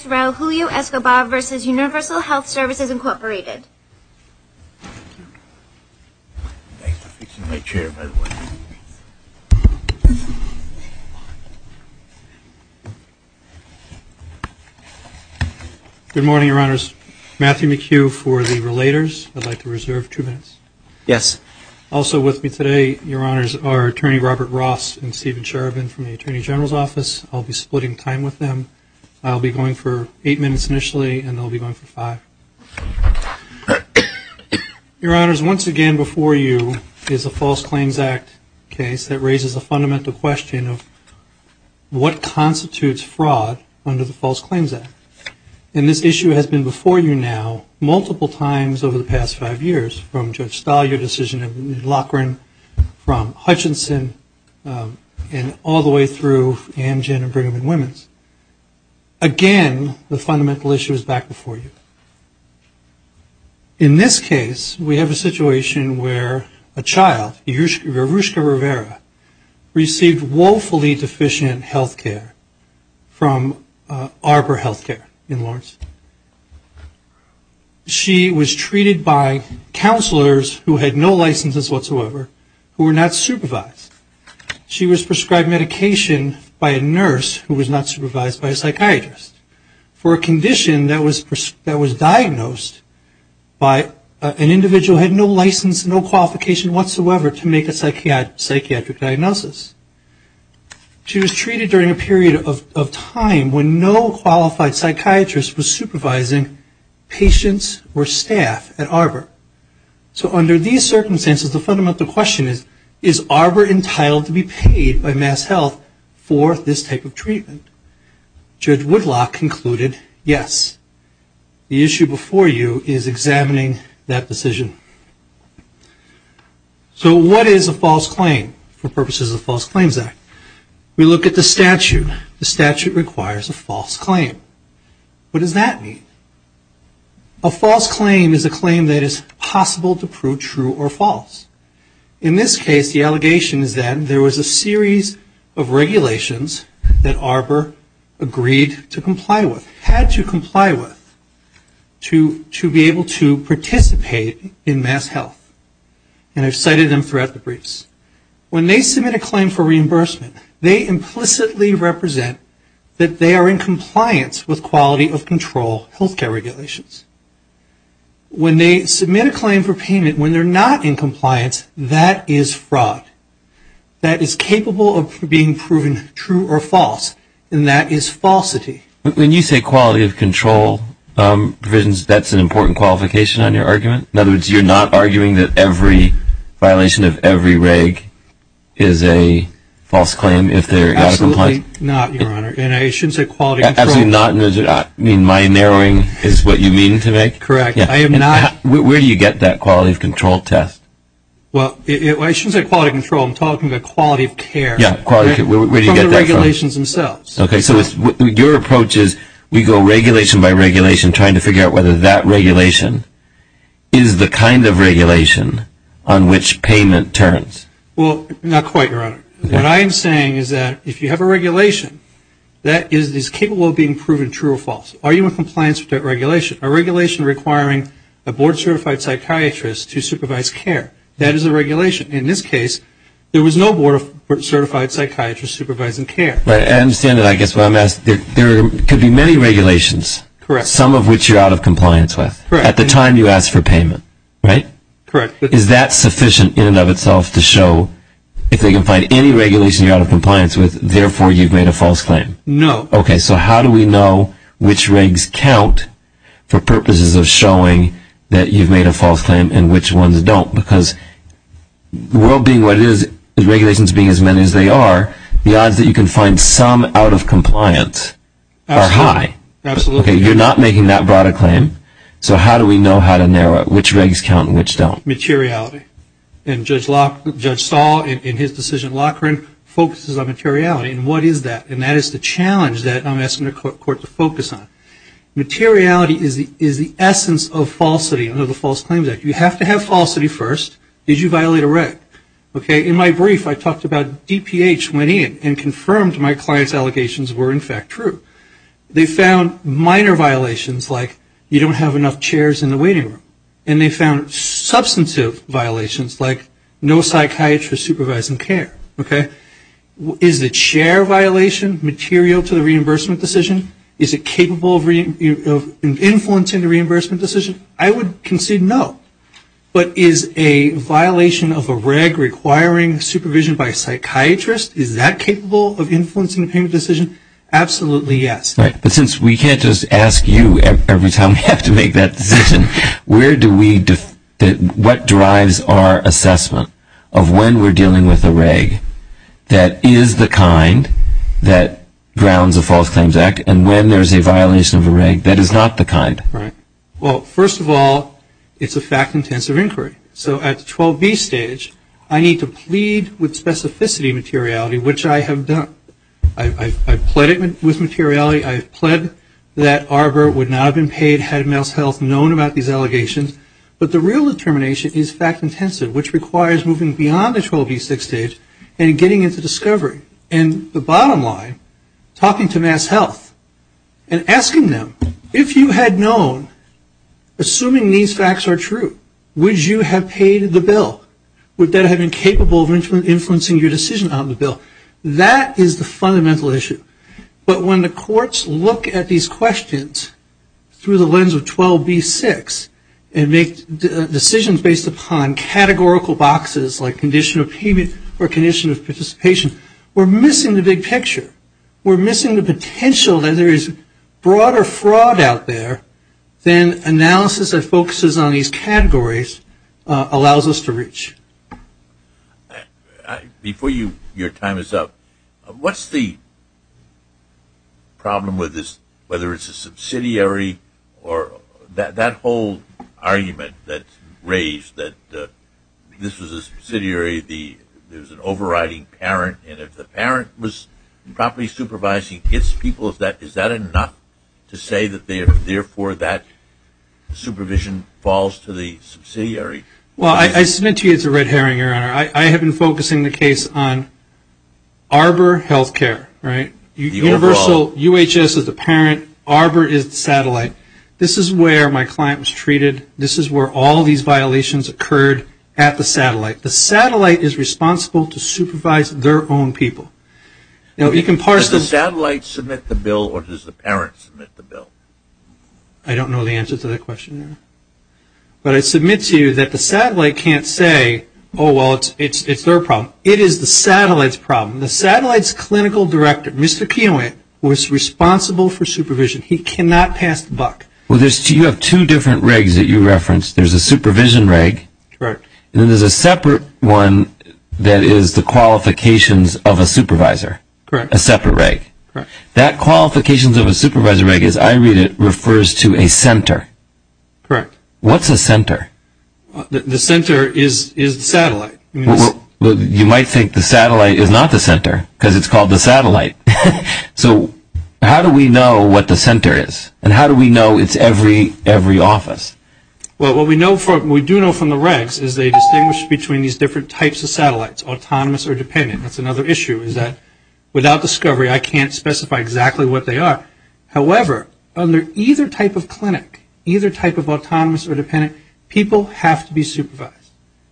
Good morning, Your Honors. Matthew McHugh for the Relators. I'd like to reserve two minutes. Also with me today, Your Honors, are Attorney Robert Ross and Stephen Cherubin from the Attorney General's Office. I'll be splitting time with them. I'll be going for eight minutes initially, and they'll be going for five. Your Honors, once again before you is a False Claims Act case that raises a fundamental question of what constitutes fraud under the False Claims Act. And this issue has been before you now multiple times over the past five years, from Judge Stahl, your decision in Laughran, from Hutchinson, and all the way through Amgen and Brigham and Women's. Again, the fundamental issue is back before you. In this case, we have a situation where a child, Yruska Rivera, received woefully deficient health care from Arbor Health Care in Lawrence. She was treated by counselors who had no licenses whatsoever, who were not supervised. She was prescribed medication by a nurse who was not supervised by a psychiatrist for a condition that was diagnosed by an individual who had no license, no qualification whatsoever to make a psychiatric diagnosis. She was treated during a period of time when no qualified psychiatrist was supervising patients or staff at Arbor. So under these circumstances, the fundamental question is, is Arbor entitled to be paid by MassHealth for this type of treatment? Judge Woodlock concluded, yes. The issue before you is examining that decision. So what is a False Claim for purposes of the False Claims Act? We look at the statute. The statute requires a False Claim. What does that mean? A False Claim is a claim that is possible to prove true or false. In this case, the allegation is that there was a series of regulations that Arbor agreed to comply with, had to comply with, to be able to participate in MassHealth, and I've cited them throughout the briefs. When they submit a claim for reimbursement, they implicitly represent that they are in compliance with quality of control health care regulations. When they submit a claim for payment when they're not in compliance, that is fraud. That is capable of being proven true or false, and that is falsity. When you say quality of control provisions, that's an important qualification on your argument? In other words, you're not arguing that every violation of every reg is a false claim if they're not in compliance? Absolutely not, Your Honor, and I shouldn't say quality of control. You mean my narrowing is what you mean to make? Correct. I am not. Where do you get that quality of control test? Well, I shouldn't say quality of control. I'm talking about quality of care. Yeah, quality of care. Where do you get that from? From the regulations themselves. Okay, so your approach is we go regulation by regulation trying to figure out whether that regulation is the kind of regulation on which payment turns. Well, not quite, Your Honor. What I am saying is that if you have a regulation that is capable of being proven true or false, are you in compliance with that regulation? A regulation requiring a board-certified psychiatrist to supervise care, that is a regulation. In this case, there was no board-certified psychiatrist supervising care. I understand that. I guess what I'm asking, there could be many regulations. Correct. Some of which you're out of compliance with. Correct. At the time you asked for payment, right? Correct. Is that sufficient in and of itself to show if they can find any regulation you're out of compliance with, therefore you've made a false claim? No. Okay, so how do we know which regs count for purposes of showing that you've made a false claim and which ones don't? Because the world being what it is, the regulations being as many as they are, the odds that you can find some out of compliance are high. Absolutely. Okay, you're not making that broader claim, so how do we know how to narrow it, which regs count and which don't? Materiality. And Judge Saul, in his decision in Loughran, focuses on materiality. And what is that? And that is the challenge that I'm asking the court to focus on. Materiality is the essence of falsity under the False Claims Act. You have to have falsity first. Did you violate a reg? Okay, in my brief, I talked about DPH went in and confirmed my client's allegations were in fact true. They found minor violations, like you don't have enough chairs in the waiting room. And they found substantive violations, like no psychiatrist supervising care. Okay? Is the chair violation material to the reimbursement decision? Is it capable of influencing the reimbursement decision? I would concede no. But is a violation of a reg requiring supervision by a psychiatrist, is that capable of influencing the payment decision? Absolutely yes. Right, but since we can't just ask you every time we have to make that decision, what drives our assessment of when we're dealing with a reg that is the kind that grounds a False Claims Act and when there's a violation of a reg that is not the kind? Right. Well, first of all, it's a fact-intensive inquiry. So at the 12B stage, I need to plead with specificity materiality, which I have done. I've pleaded with materiality. I've pled that Arbor would not have been paid had MassHealth known about these allegations. But the real determination is fact-intensive, which requires moving beyond the 12B6 stage and getting into discovery. And the bottom line, talking to MassHealth and asking them, if you had known, assuming these facts are true, would you have paid the bill? Would that have been capable of influencing your decision on the bill? That is the fundamental issue. But when the courts look at these questions through the lens of 12B6 and make decisions based upon categorical boxes like condition of payment or condition of participation, we're missing the big picture. We're missing the potential that there is broader fraud out there than analysis that focuses on these categories allows us to reach. Before your time is up, what's the problem with this, whether it's a subsidiary or that whole argument that's raised that this was a subsidiary, there's an overriding parent, and if the parent was properly supervising its people, is that enough to say that, therefore, that supervision falls to the subsidiary? Well, I submit to you it's a red herring, Your Honor. I have been focusing the case on Arbor Healthcare, right? Universal, UHS is the parent, Arbor is the satellite. This is where my client was treated. This is where all these violations occurred at the satellite. The satellite is responsible to supervise their own people. Now, you can parse this. Does the satellite submit the bill or does the parent submit the bill? I don't know the answer to that question. But I submit to you that the satellite can't say, oh, well, it's their problem. It is the satellite's problem. The satellite's clinical director, Mr. Kienle, was responsible for supervision. He cannot pass the buck. Well, you have two different regs that you referenced. There's a supervision reg. Correct. And then there's a separate one that is the qualifications of a supervisor, a separate reg. Correct. That qualifications of a supervisor reg, as I read it, refers to a center. Correct. What's a center? The center is the satellite. You might think the satellite is not the center because it's called the satellite. So how do we know what the center is and how do we know it's every office? Well, what we do know from the regs is they distinguish between these different types of satellites, autonomous or dependent. That's another issue is that without discovery I can't specify exactly what they are. However, under either type of clinic, either type of autonomous or dependent, people have to be supervised.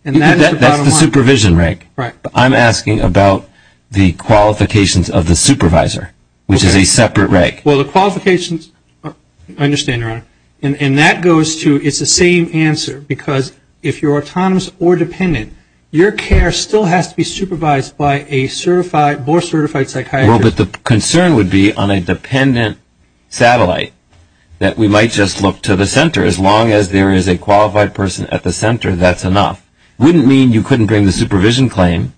That's the supervision reg. Right. I'm asking about the qualifications of the supervisor, which is a separate reg. Well, the qualifications, I understand, Your Honor. And that goes to it's the same answer because if you're autonomous or dependent, your care still has to be supervised by a more certified psychiatrist. Well, but the concern would be on a dependent satellite that we might just look to the center. As long as there is a qualified person at the center, that's enough. It wouldn't mean you couldn't bring the supervision claim,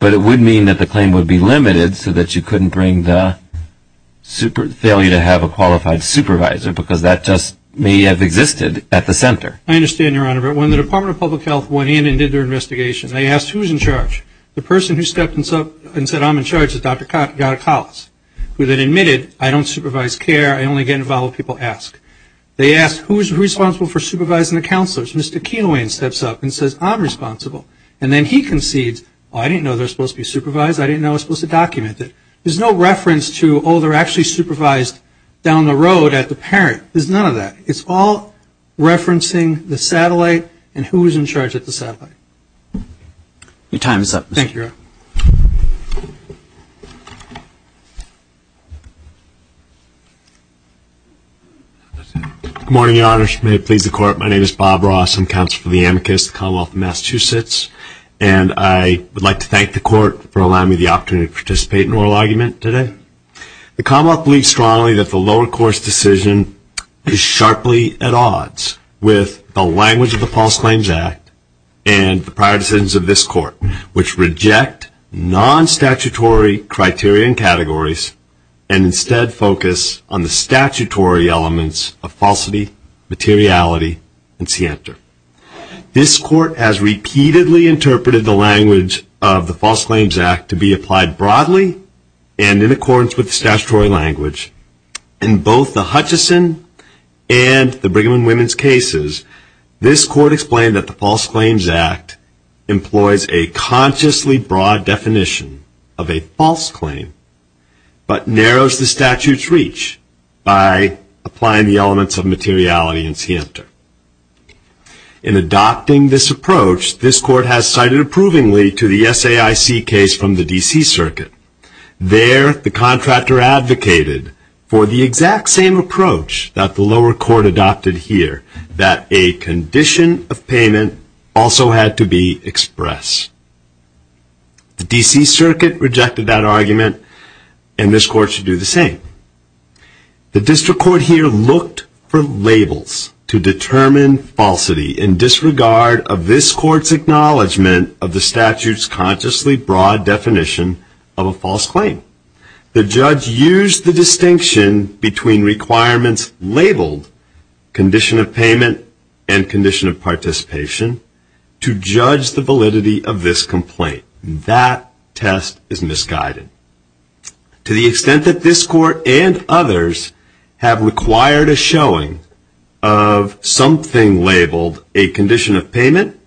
but it would mean that the claim would be limited so that you couldn't bring the failure to have a qualified supervisor because that just may have existed at the center. I understand, Your Honor. But when the Department of Public Health went in and did their investigation, they asked who was in charge. The person who stepped up and said, I'm in charge is Dr. Gattacollis, who then admitted, I don't supervise care. I only get involved when people ask. They asked, who is responsible for supervising the counselors? Mr. Keelowain steps up and says, I'm responsible. And then he concedes, oh, I didn't know they were supposed to be supervised. I didn't know I was supposed to document it. There's no reference to, oh, they're actually supervised down the road at the parent. There's none of that. It's all referencing the satellite and who was in charge at the satellite. Your time is up, Mr. Keelowain. Thank you, Your Honor. Good morning, Your Honor. May it please the Court. My name is Bob Ross. I'm counsel for the amicus of the Commonwealth of Massachusetts. And I would like to thank the Court for allowing me the opportunity to participate in oral argument today. The Commonwealth believes strongly that the lower course decision is sharply at odds with the language of the False Claims Act and the prior decisions of this Court, which reject non-statutory criteria and categories and instead focus on the statutory elements of falsity, materiality, and scienter. This Court has repeatedly interpreted the language of the False Claims Act to be applied broadly and in accordance with statutory language in both the Hutchison and the Brigham and Women's cases. This Court explained that the False Claims Act employs a consciously broad definition of a false claim but narrows the statute's reach by applying the elements of materiality and scienter. In adopting this approach, this Court has cited approvingly to the SAIC case from the D.C. Circuit. There, the contractor advocated for the exact same approach that the lower court adopted here, that a condition of payment also had to be expressed. The D.C. Circuit rejected that argument, and this Court should do the same. The district court here looked for labels to determine falsity in disregard of this Court's acknowledgment of the statute's consciously broad definition of a false claim. The judge used the distinction between requirements labeled condition of payment and condition of participation to judge the validity of this complaint. That test is misguided. To the extent that this Court and others have required a showing of something labeled a condition of payment,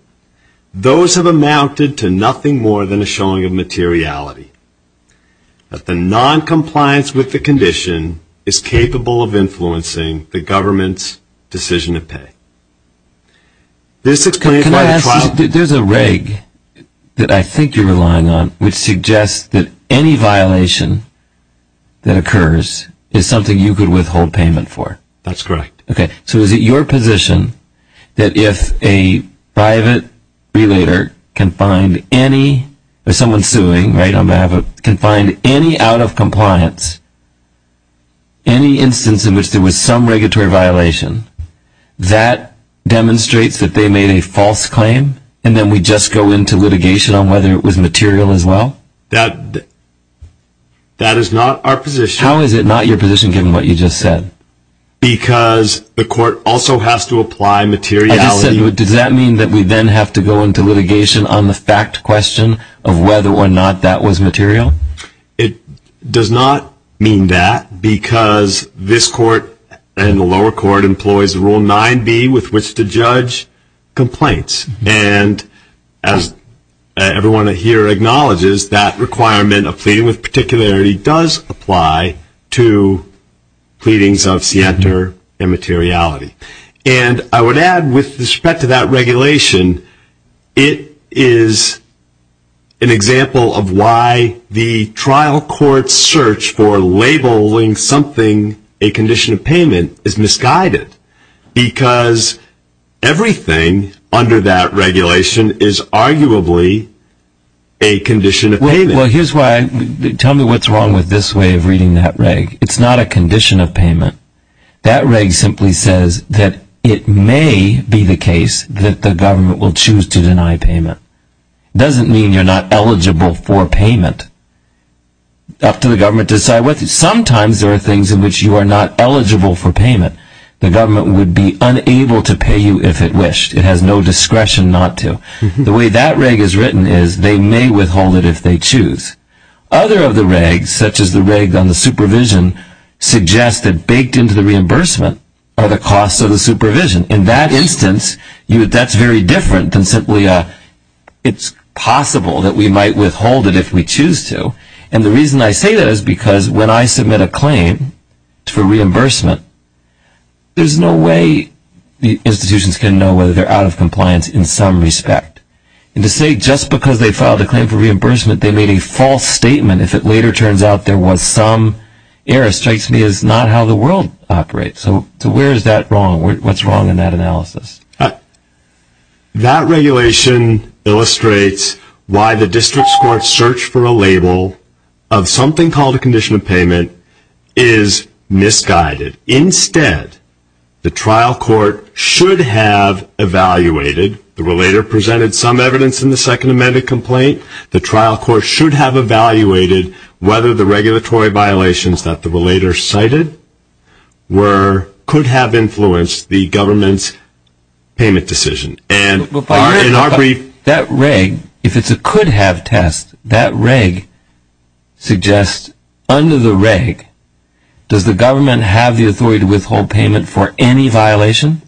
those have amounted to nothing more than a showing of materiality. That the noncompliance with the condition is capable of influencing the government's decision to pay. This explains why the trial- Can I ask, there's a reg that I think you're relying on which suggests that any violation that occurs is something you could withhold payment for. That's correct. Okay, so is it your position that if a private relator can find any- or someone suing, right, on behalf of- can find any out-of-compliance, any instance in which there was some regulatory violation, that demonstrates that they made a false claim, and then we just go into litigation on whether it was material as well? That is not our position. How is it not your position, given what you just said? Because the Court also has to apply materiality- I just said, does that mean that we then have to go into litigation on the fact question of whether or not that was material? It does not mean that, because this Court and the lower court employs Rule 9b with which to judge complaints. And as everyone here acknowledges, that requirement of pleading with immateriality. And I would add, with respect to that regulation, it is an example of why the trial court's search for labeling something a condition of payment is misguided, because everything under that regulation is arguably a condition of payment. Well, here's why. Tell me what's wrong with this way of reading that reg. It's not a condition of payment. That reg simply says that it may be the case that the government will choose to deny payment. It doesn't mean you're not eligible for payment. Up to the government to decide. Sometimes there are things in which you are not eligible for payment. The government would be unable to pay you if it wished. It has no discretion not to. The way that reg is written is, they may withhold it if they choose. Other of the regs, such as the reg on the supervision, suggests that baked into the reimbursement are the costs of the supervision. In that instance, that's very different than simply it's possible that we might withhold it if we choose to. And the reason I say that is because when I submit a claim for reimbursement, there's no way the institutions can know whether they're out of compliance in some respect. And to say just because they filed a claim for reimbursement, they made a false statement, if it later turns out there was some error, strikes me as not how the world operates. So where is that wrong? What's wrong in that analysis? That regulation illustrates why the district court's search for a label of something called a condition of payment is misguided. Instead, the trial court should have evaluated, the relator presented some evidence in the Second Amendment complaint, the trial court should have evaluated whether the regulatory violations that the relator cited could have influenced the government's payment decision. And in our brief... That reg, if it's a could-have test, that reg suggests under the reg, does the government have the authority to withhold payment for any violation?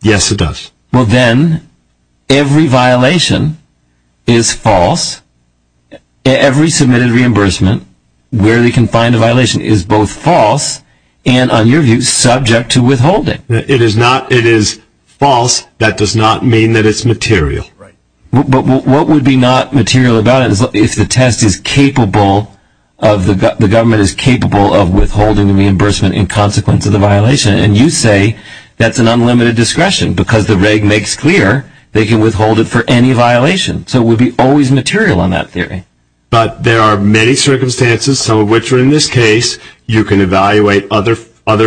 Yes, it does. Well, then every violation is false. Every submitted reimbursement, where they can find a violation, is both false and, on your view, subject to withholding. It is false. That does not mean that it's material. Right. And you say that's an unlimited discretion because the reg makes clear they can withhold it for any violation. So it would be always material on that theory. But there are many circumstances, some of which are in this case. You can evaluate other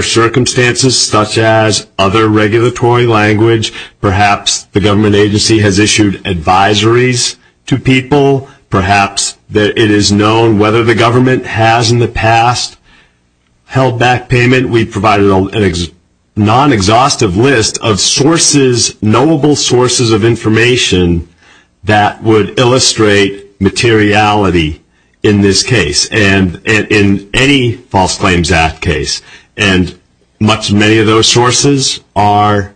circumstances, such as other regulatory language. Perhaps the government agency has issued advisories to people. Perhaps it is known whether the government has in the past held back payment. We provided a non-exhaustive list of sources, knowable sources of information that would illustrate materiality in this case and in any False Claims Act case. And many of those sources are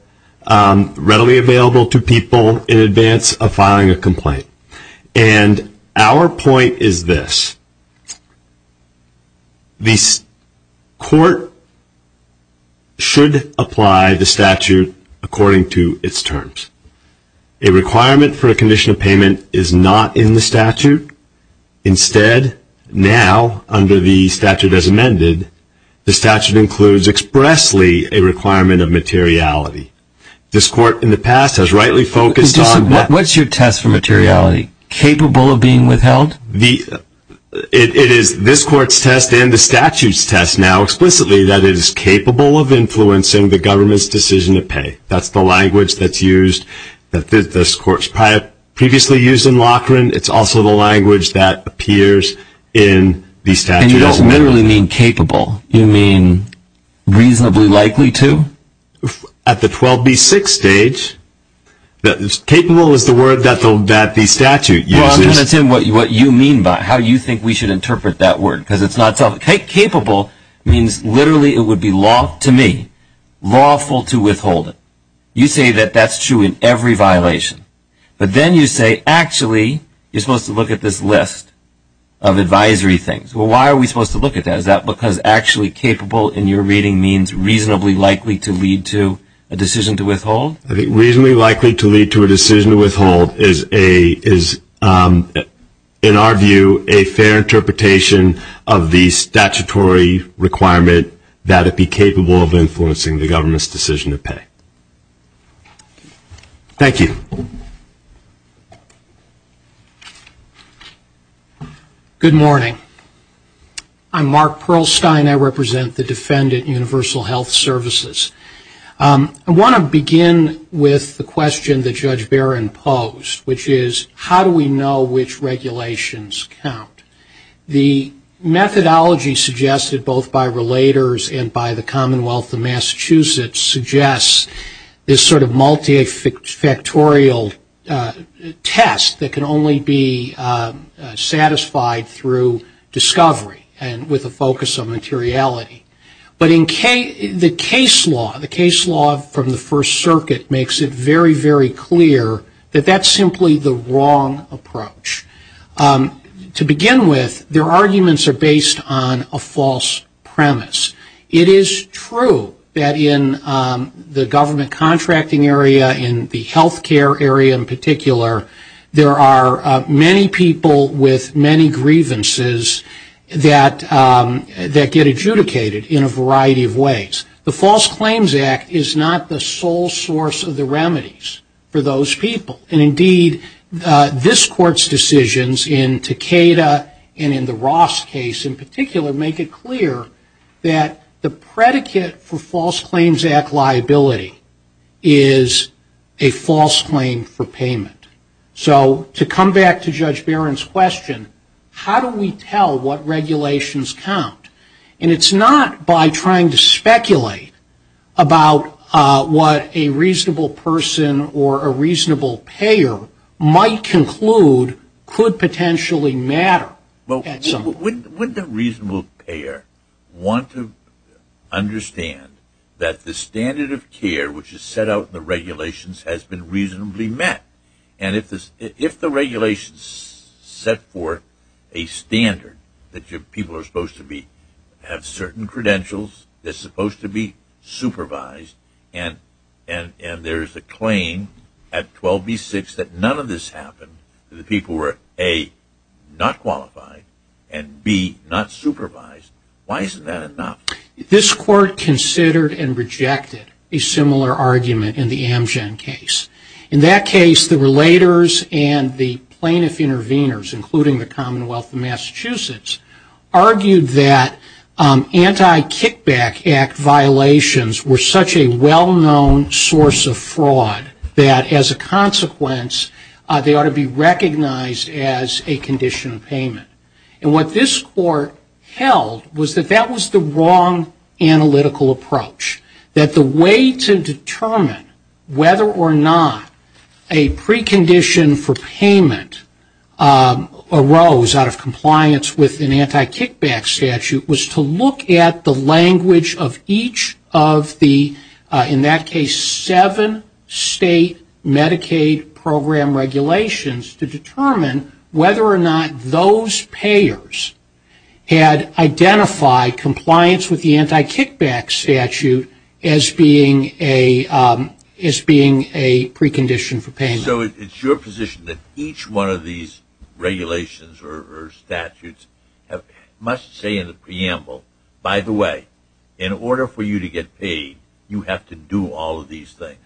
readily available to people in advance of filing a complaint. And our point is this. The court should apply the statute according to its terms. A requirement for a condition of payment is not in the statute. Instead, now, under the statute as amended, the statute includes expressly a requirement of materiality. This court in the past has rightly focused on that. What's your test for materiality? Capable of being withheld? It is this court's test and the statute's test now explicitly that it is capable of influencing the government's decision to pay. That's the language that's used, that this court's previously used in Loughran. It's also the language that appears in the statute as amended. And you don't literally mean capable. You mean reasonably likely to? At the 12B6 stage, capable is the word that the statute uses. Well, I'm going to tell you what you mean by it, how you think we should interpret that word because it's not self-evident. Capable means literally it would be law to me, lawful to withhold it. You say that that's true in every violation. But then you say actually you're supposed to look at this list of advisory things. Well, why are we supposed to look at that? Is that because actually capable in your reading means reasonably likely to lead to a decision to withhold? Reasonably likely to lead to a decision to withhold is, in our view, a fair interpretation of the statutory requirement that it be capable of influencing the government's decision to pay. Thank you. Good morning. I'm Mark Perlstein. I represent the Defendant Universal Health Services. I want to begin with the question that Judge Barron posed, which is how do we know which regulations count? The methodology suggested both by relators and by the Commonwealth of Massachusetts suggests this sort of multifactorial test that can only be with a focus of materiality. But the case law from the First Circuit makes it very, very clear that that's simply the wrong approach. To begin with, their arguments are based on a false premise. It is true that in the government contracting area, in the health care area in particular, there are many people with many grievances that get adjudicated in a variety of ways. The False Claims Act is not the sole source of the remedies for those people. And indeed, this Court's decisions in Takeda and in the Ross case in particular make it clear that the predicate for False Claims Act liability is a false claim for payment. So to come back to Judge Barron's question, how do we tell what regulations count? And it's not by trying to speculate about what a reasonable person or a reasonable payer might conclude could potentially matter. Wouldn't a reasonable payer want to understand that the standard of care, which is set out in the regulations, has been reasonably met? And if the regulations set forth a standard that people are supposed to have certain credentials, they're supposed to be supervised, and there is a claim at 12B6 that none of this happened, that the people were A, not qualified, and B, not supervised. Why isn't that enough? This Court considered and rejected a similar argument in the Amgen case. In that case, the relators and the plaintiff intervenors, including the Commonwealth of Massachusetts, argued that Anti-Kickback Act violations were such a well-known source of fraud that, as a consequence, they ought to be recognized as a condition of payment. And what this Court held was that that was the wrong analytical approach, that the way to determine whether or not a precondition for payment arose out of compliance with an Anti-Kickback statute was to look at the language of each of the, in that case, seven state Medicaid program regulations to determine whether or not those payers had identified compliance with the Anti-Kickback statute as being a precondition for payment. So it's your position that each one of these regulations or statutes must say in the preamble, by the way, in order for you to get paid, you have to do all of these things.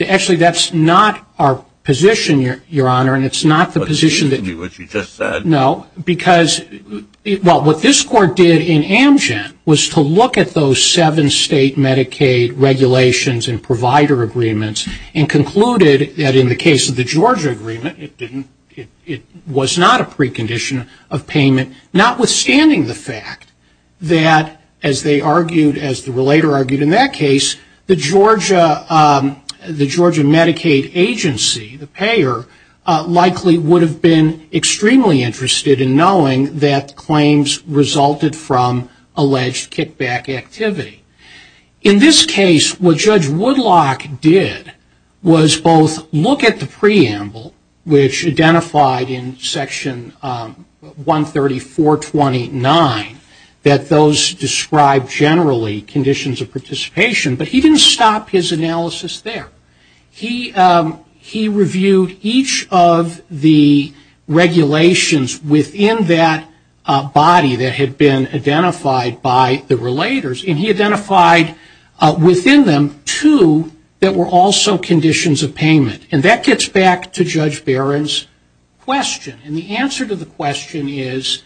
Actually, that's not our position, Your Honor, and it's not the position that you just said. No, because what this Court did in Amgen was to look at those seven state Medicaid regulations and provider agreements and concluded that in the case of the Georgia agreement, it was not a precondition of payment, notwithstanding the fact that, as they argued, as the relator argued in that case, the Georgia Medicaid agency, the payer, likely would have been extremely interested in knowing that claims resulted from alleged kickback activity. In this case, what Judge Woodlock did was both look at the preamble, which identified in Section 134.29, that those describe generally conditions of participation, but he didn't stop his analysis there. He reviewed each of the regulations within that body that had been identified by the relators, and he identified within them two that were also conditions of payment. And that gets back to Judge Barron's question. And the answer to the question is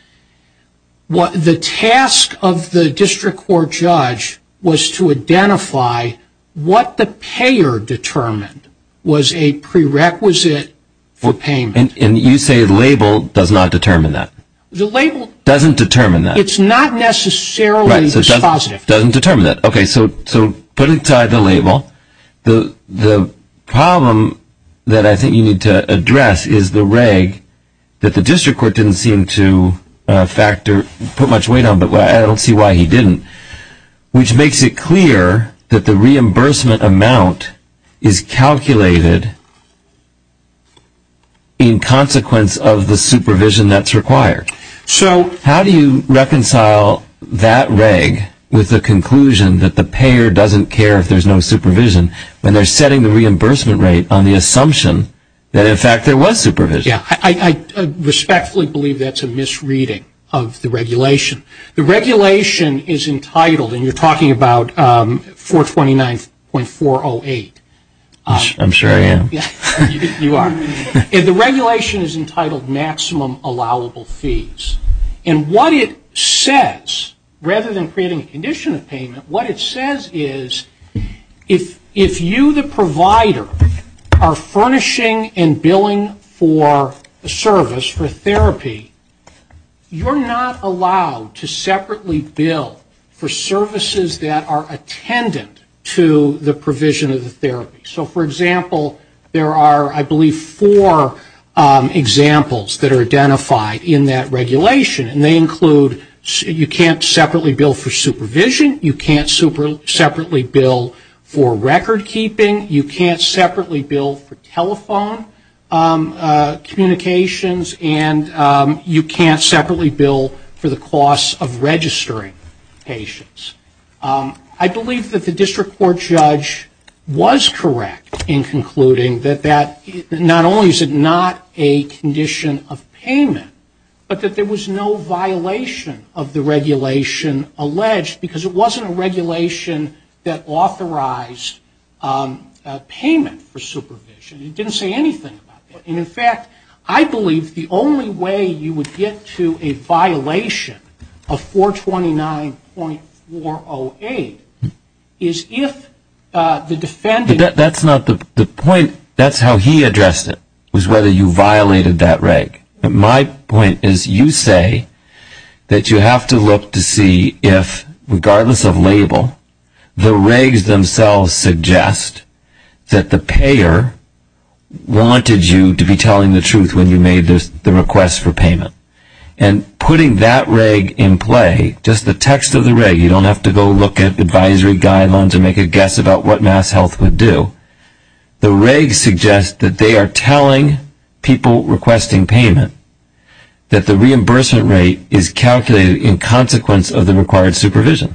the task of the district court judge was to identify what the payer determined was a prerequisite for payment. And you say the label does not determine that? The label doesn't determine that. It's not necessarily positive. It doesn't determine that. Okay, so put aside the label. The problem that I think you need to address is the reg that the district court didn't seem to factor, put much weight on, but I don't see why he didn't, which makes it clear that the reimbursement amount is calculated in consequence of the supervision that's required. How do you reconcile that reg with the conclusion that the payer doesn't care if there's no supervision when they're setting the reimbursement rate on the assumption that, in fact, there was supervision? I respectfully believe that's a misreading of the regulation. The regulation is entitled, and you're talking about 429.408. I'm sure I am. You are. And the regulation is entitled maximum allowable fees. And what it says, rather than creating a condition of payment, what it says is if you, the provider, are furnishing and billing for a service, for therapy, you're not allowed to separately bill for services that are attendant to the provision of the therapy. So, for example, there are, I believe, four examples that are identified in that regulation, and they include you can't separately bill for supervision, you can't separately bill for record keeping, you can't separately bill for telephone communications, and you can't separately bill for the cost of registering patients. I believe that the district court judge was correct in concluding that not only is it not a condition of payment, but that there was no violation of the regulation alleged, because it wasn't a regulation that authorized payment for supervision. It didn't say anything about that. And, in fact, I believe the only way you would get to a violation of 429.408 is if the defendant That's not the point. That's how he addressed it, was whether you violated that reg. My point is you say that you have to look to see if, regardless of label, the regs themselves suggest that the payer wanted you to be telling the truth when you made the request for payment. And putting that reg in play, just the text of the reg, you don't have to go look at advisory guidelines or make a guess about what MassHealth would do. The regs suggest that they are telling people requesting payment that the reimbursement rate is calculated in consequence of the required supervision.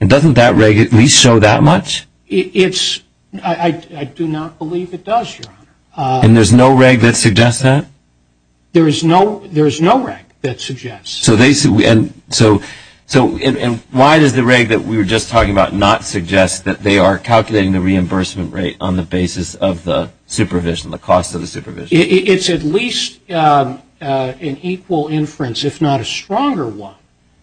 And doesn't that reg at least show that much? I do not believe it does, Your Honor. And there's no reg that suggests that? There is no reg that suggests. And why does the reg that we were just talking about not suggest that they are calculating the reimbursement rate on the basis of the supervision, the cost of the supervision? It's at least an equal inference, if not a stronger one,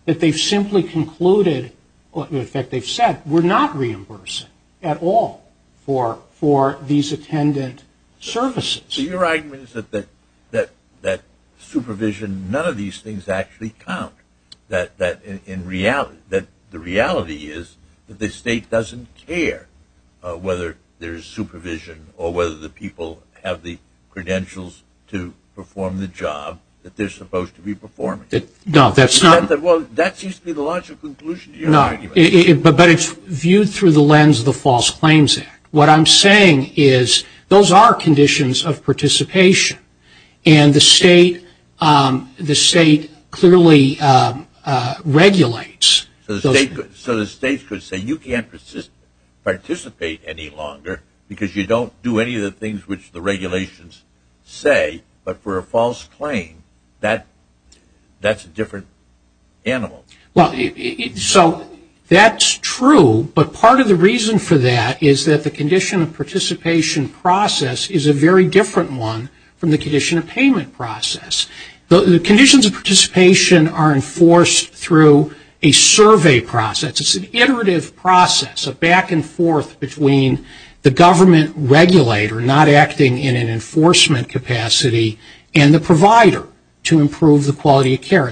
that they've simply concluded, in effect they've said, we're not reimbursing at all for these attendant services. So your argument is that supervision, none of these things actually count, that the reality is that the state doesn't care whether there's supervision or whether the people have the credentials to perform the job that they're supposed to be performing. No, that's not. Well, that seems to be the logical conclusion to your argument. No, but it's viewed through the lens of the False Claims Act. What I'm saying is those are conditions of participation, and the state clearly regulates. So the states could say, you can't participate any longer, because you don't do any of the things which the regulations say, but for a false claim, that's a different animal. So that's true, but part of the reason for that is that the condition of participation process is a very different one from the condition of payment process. The conditions of participation are enforced through a survey process. It's an iterative process, a back and forth between the government regulator not acting in an enforcement capacity and the provider to improve the quality of care.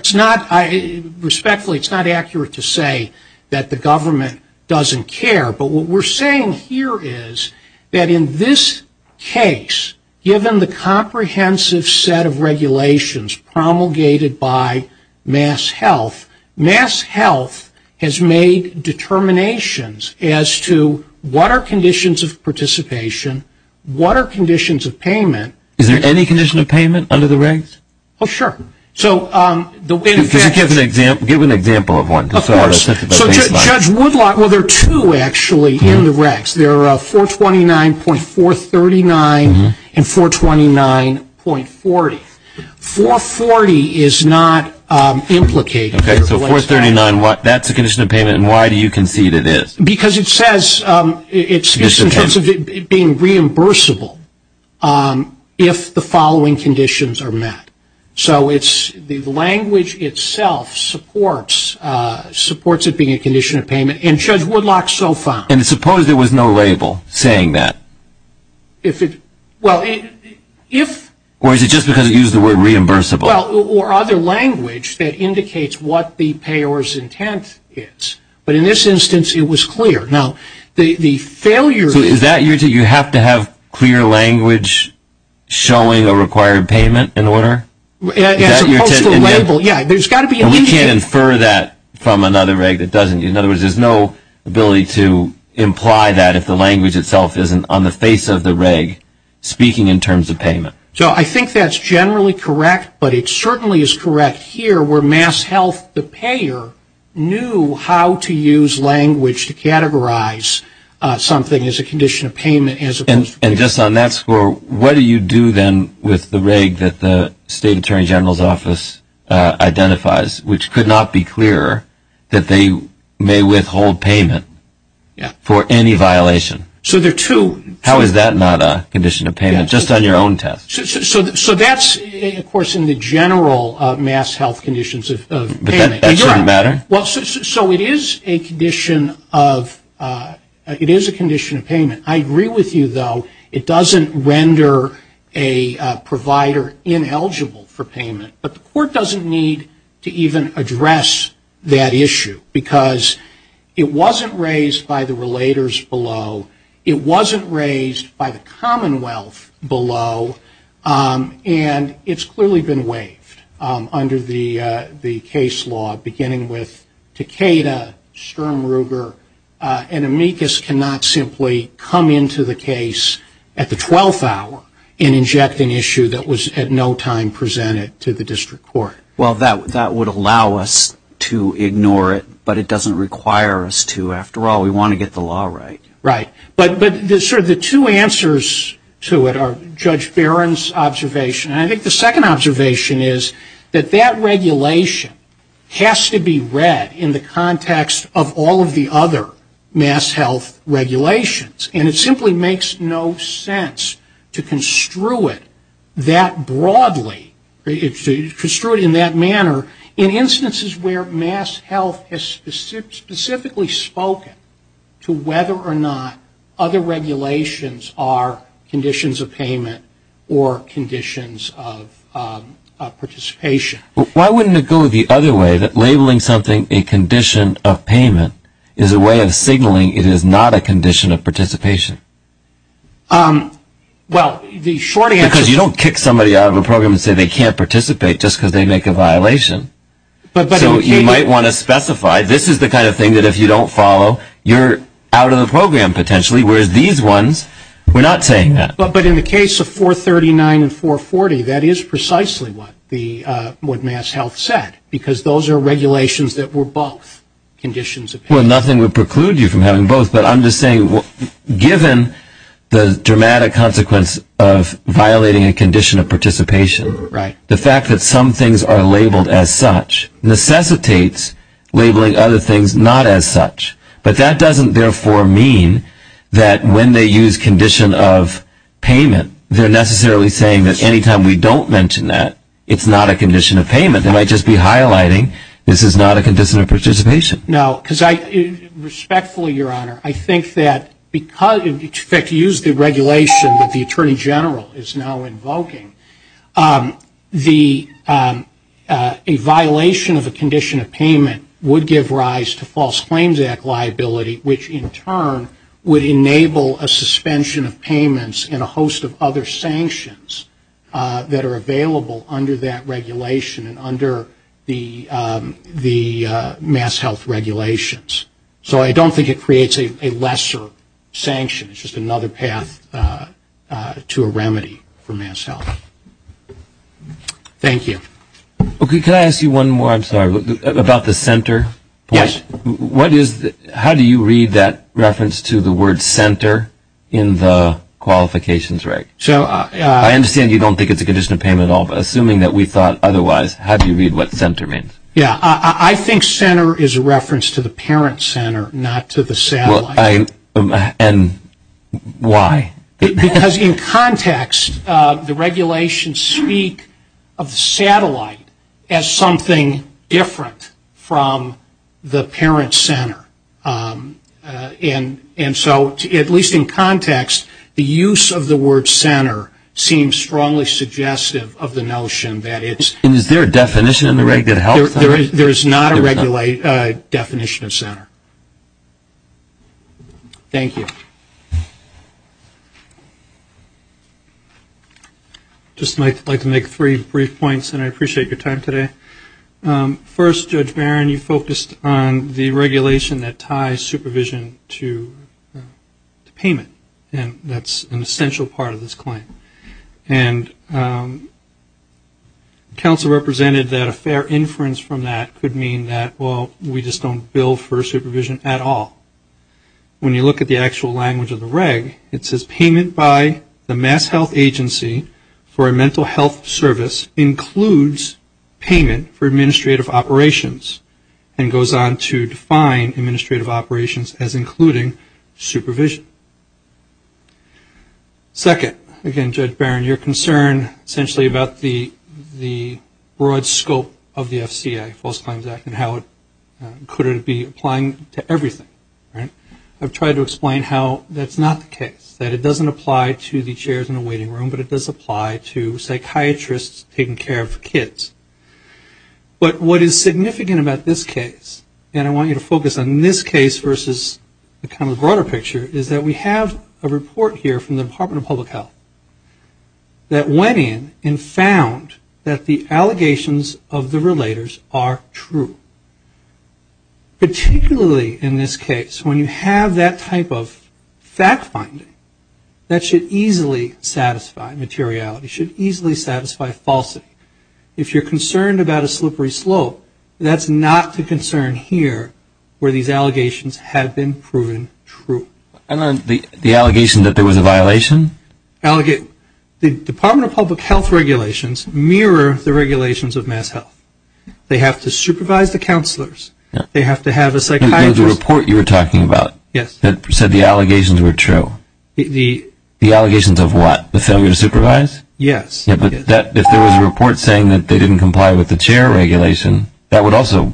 Respectfully, it's not accurate to say that the government doesn't care, but what we're saying here is that in this case, given the comprehensive set of regulations promulgated by MassHealth, MassHealth has made determinations as to what are conditions of participation, what are conditions of payment. Is there any condition of payment under the regs? Oh, sure. Give an example of one. Of course. So Judge Woodlot, well, there are two actually in the regs. There are 429.439 and 429.40. 440 is not implicated. Okay, so 439, that's a condition of payment, and why do you concede it is? Because it says it's just in terms of it being reimbursable if the following conditions are met. So it's the language itself supports it being a condition of payment, and Judge Woodlot so found. And suppose there was no label saying that? Well, if. Or is it just because it used the word reimbursable? Well, or other language that indicates what the payer's intent is. But in this instance, it was clear. Now, the failure. So is that your intent? You have to have clear language showing a required payment in order? As opposed to label, yeah. There's got to be a label. And we can't infer that from another reg that doesn't. In other words, there's no ability to imply that if the language itself isn't on the face of the reg speaking in terms of payment. So I think that's generally correct, but it certainly is correct here where MassHealth, the payer, knew how to use language to categorize something as a condition of payment. And just on that score, what do you do then with the reg that the State Attorney General's office identifies, which could not be clearer, that they may withhold payment for any violation? So there are two. How is that not a condition of payment, just on your own test? So that's, of course, in the general MassHealth conditions of payment. So it is a condition of payment. I agree with you, though. It doesn't render a provider ineligible for payment. But the court doesn't need to even address that issue because it wasn't raised by the relators below. It wasn't raised by the Commonwealth below. And it's clearly been waived under the case law, beginning with Takeda, Sturm, Ruger. And amicus cannot simply come into the case at the 12th hour and inject an issue that was at no time presented to the district court. Well, that would allow us to ignore it, but it doesn't require us to. After all, we want to get the law right. Right. But sort of the two answers to it are Judge Barron's observation, and I think the second observation is that that regulation has to be read in the context of all of the other MassHealth regulations. And it simply makes no sense to construe it that broadly, to construe it in that manner, in instances where MassHealth has specifically spoken to whether or not other regulations are conditions of payment or conditions of participation. Well, why wouldn't it go the other way, that labeling something a condition of payment is a way of signaling it is not a condition of participation? Well, the short answer is... So you might want to specify this is the kind of thing that if you don't follow, you're out of the program potentially, whereas these ones, we're not saying that. But in the case of 439 and 440, that is precisely what MassHealth said, because those are regulations that were both conditions of payment. Well, nothing would preclude you from having both, but I'm just saying given the dramatic consequence of violating a condition of participation, the fact that some things are labeled as such necessitates labeling other things not as such. But that doesn't, therefore, mean that when they use condition of payment, they're necessarily saying that any time we don't mention that, it's not a condition of payment. They might just be highlighting this is not a condition of participation. No, because I respectfully, Your Honor, I think that because, in fact, if you use the regulation that the Attorney General is now invoking, a violation of a condition of payment would give rise to False Claims Act liability, which in turn would enable a suspension of payments and a host of other sanctions that are available under that regulation and under the MassHealth regulations. So I don't think it creates a lesser sanction. It's just another path to a remedy for MassHealth. Thank you. Okay. Can I ask you one more, I'm sorry, about the center? Yes. How do you read that reference to the word center in the qualifications reg? I understand you don't think it's a condition of payment at all, but assuming that we thought otherwise, how do you read what center means? Yeah. I think center is a reference to the parent center, not to the satellite. And why? Because in context, the regulations speak of the satellite as something different from the parent center. And so, at least in context, the use of the word center seems strongly suggestive of the notion that it's Is there a definition in the regulated health? There is not a definition of center. Thank you. I'd just like to make three brief points, and I appreciate your time today. First, Judge Barron, you focused on the regulation that ties supervision to payment, and that's an essential part of this claim. And counsel represented that a fair inference from that could mean that, well, we just don't bill for supervision at all. When you look at the actual language of the reg, it says, payment by the MassHealth Agency for a mental health service includes payment for administrative operations, and goes on to define administrative operations as including supervision. Second, again, Judge Barron, your concern essentially about the broad scope of the FCA, False Claims Act, and how could it be applying to everything, right? I've tried to explain how that's not the case, that it doesn't apply to the chairs in the waiting room, but it does apply to psychiatrists taking care of kids. But what is significant about this case, and I want you to focus on this case versus the kind of broader picture, is that we have a report here from the Department of Public Health that went in and found that the allegations of the relators are true. Particularly in this case, when you have that type of fact-finding, that should easily satisfy materiality, should easily satisfy falsity. If you're concerned about a slippery slope, that's not the concern here where these allegations have been proven true. And then the allegation that there was a violation? The Department of Public Health regulations mirror the regulations of MassHealth. They have to supervise the counselors. They have to have a psychiatrist. There was a report you were talking about that said the allegations were true. The allegations of what? The failure to supervise? Yes. If there was a report saying that they didn't comply with the chair regulation, that would also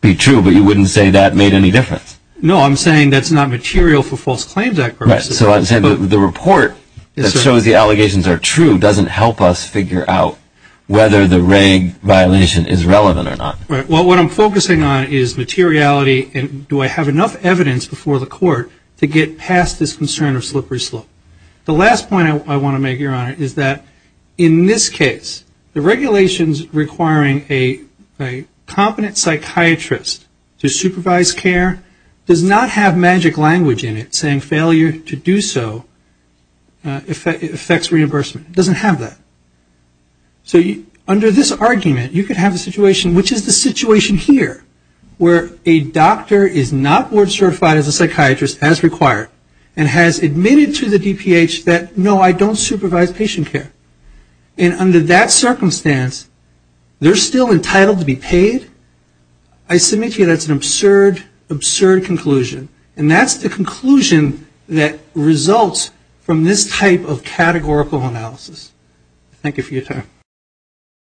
be true, but you wouldn't say that made any difference. No, I'm saying that's not material for false claims. Right. So the report that shows the allegations are true doesn't help us figure out whether the regulation violation is relevant or not. Right. Well, what I'm focusing on is materiality, and do I have enough evidence before the court to get past this concern of slippery slope? The last point I want to make, Your Honor, is that in this case, the regulations requiring a competent psychiatrist to supervise care does not have magic language in it saying failure to do so affects reimbursement. It doesn't have that. So under this argument, you could have a situation, which is the situation here, where a doctor is not board certified as a psychiatrist as required and has admitted to the DPH that, no, I don't supervise patient care. And under that circumstance, they're still entitled to be paid? I submit to you that's an absurd, absurd conclusion, and that's the conclusion that results from this type of categorical analysis. Thank you for your time.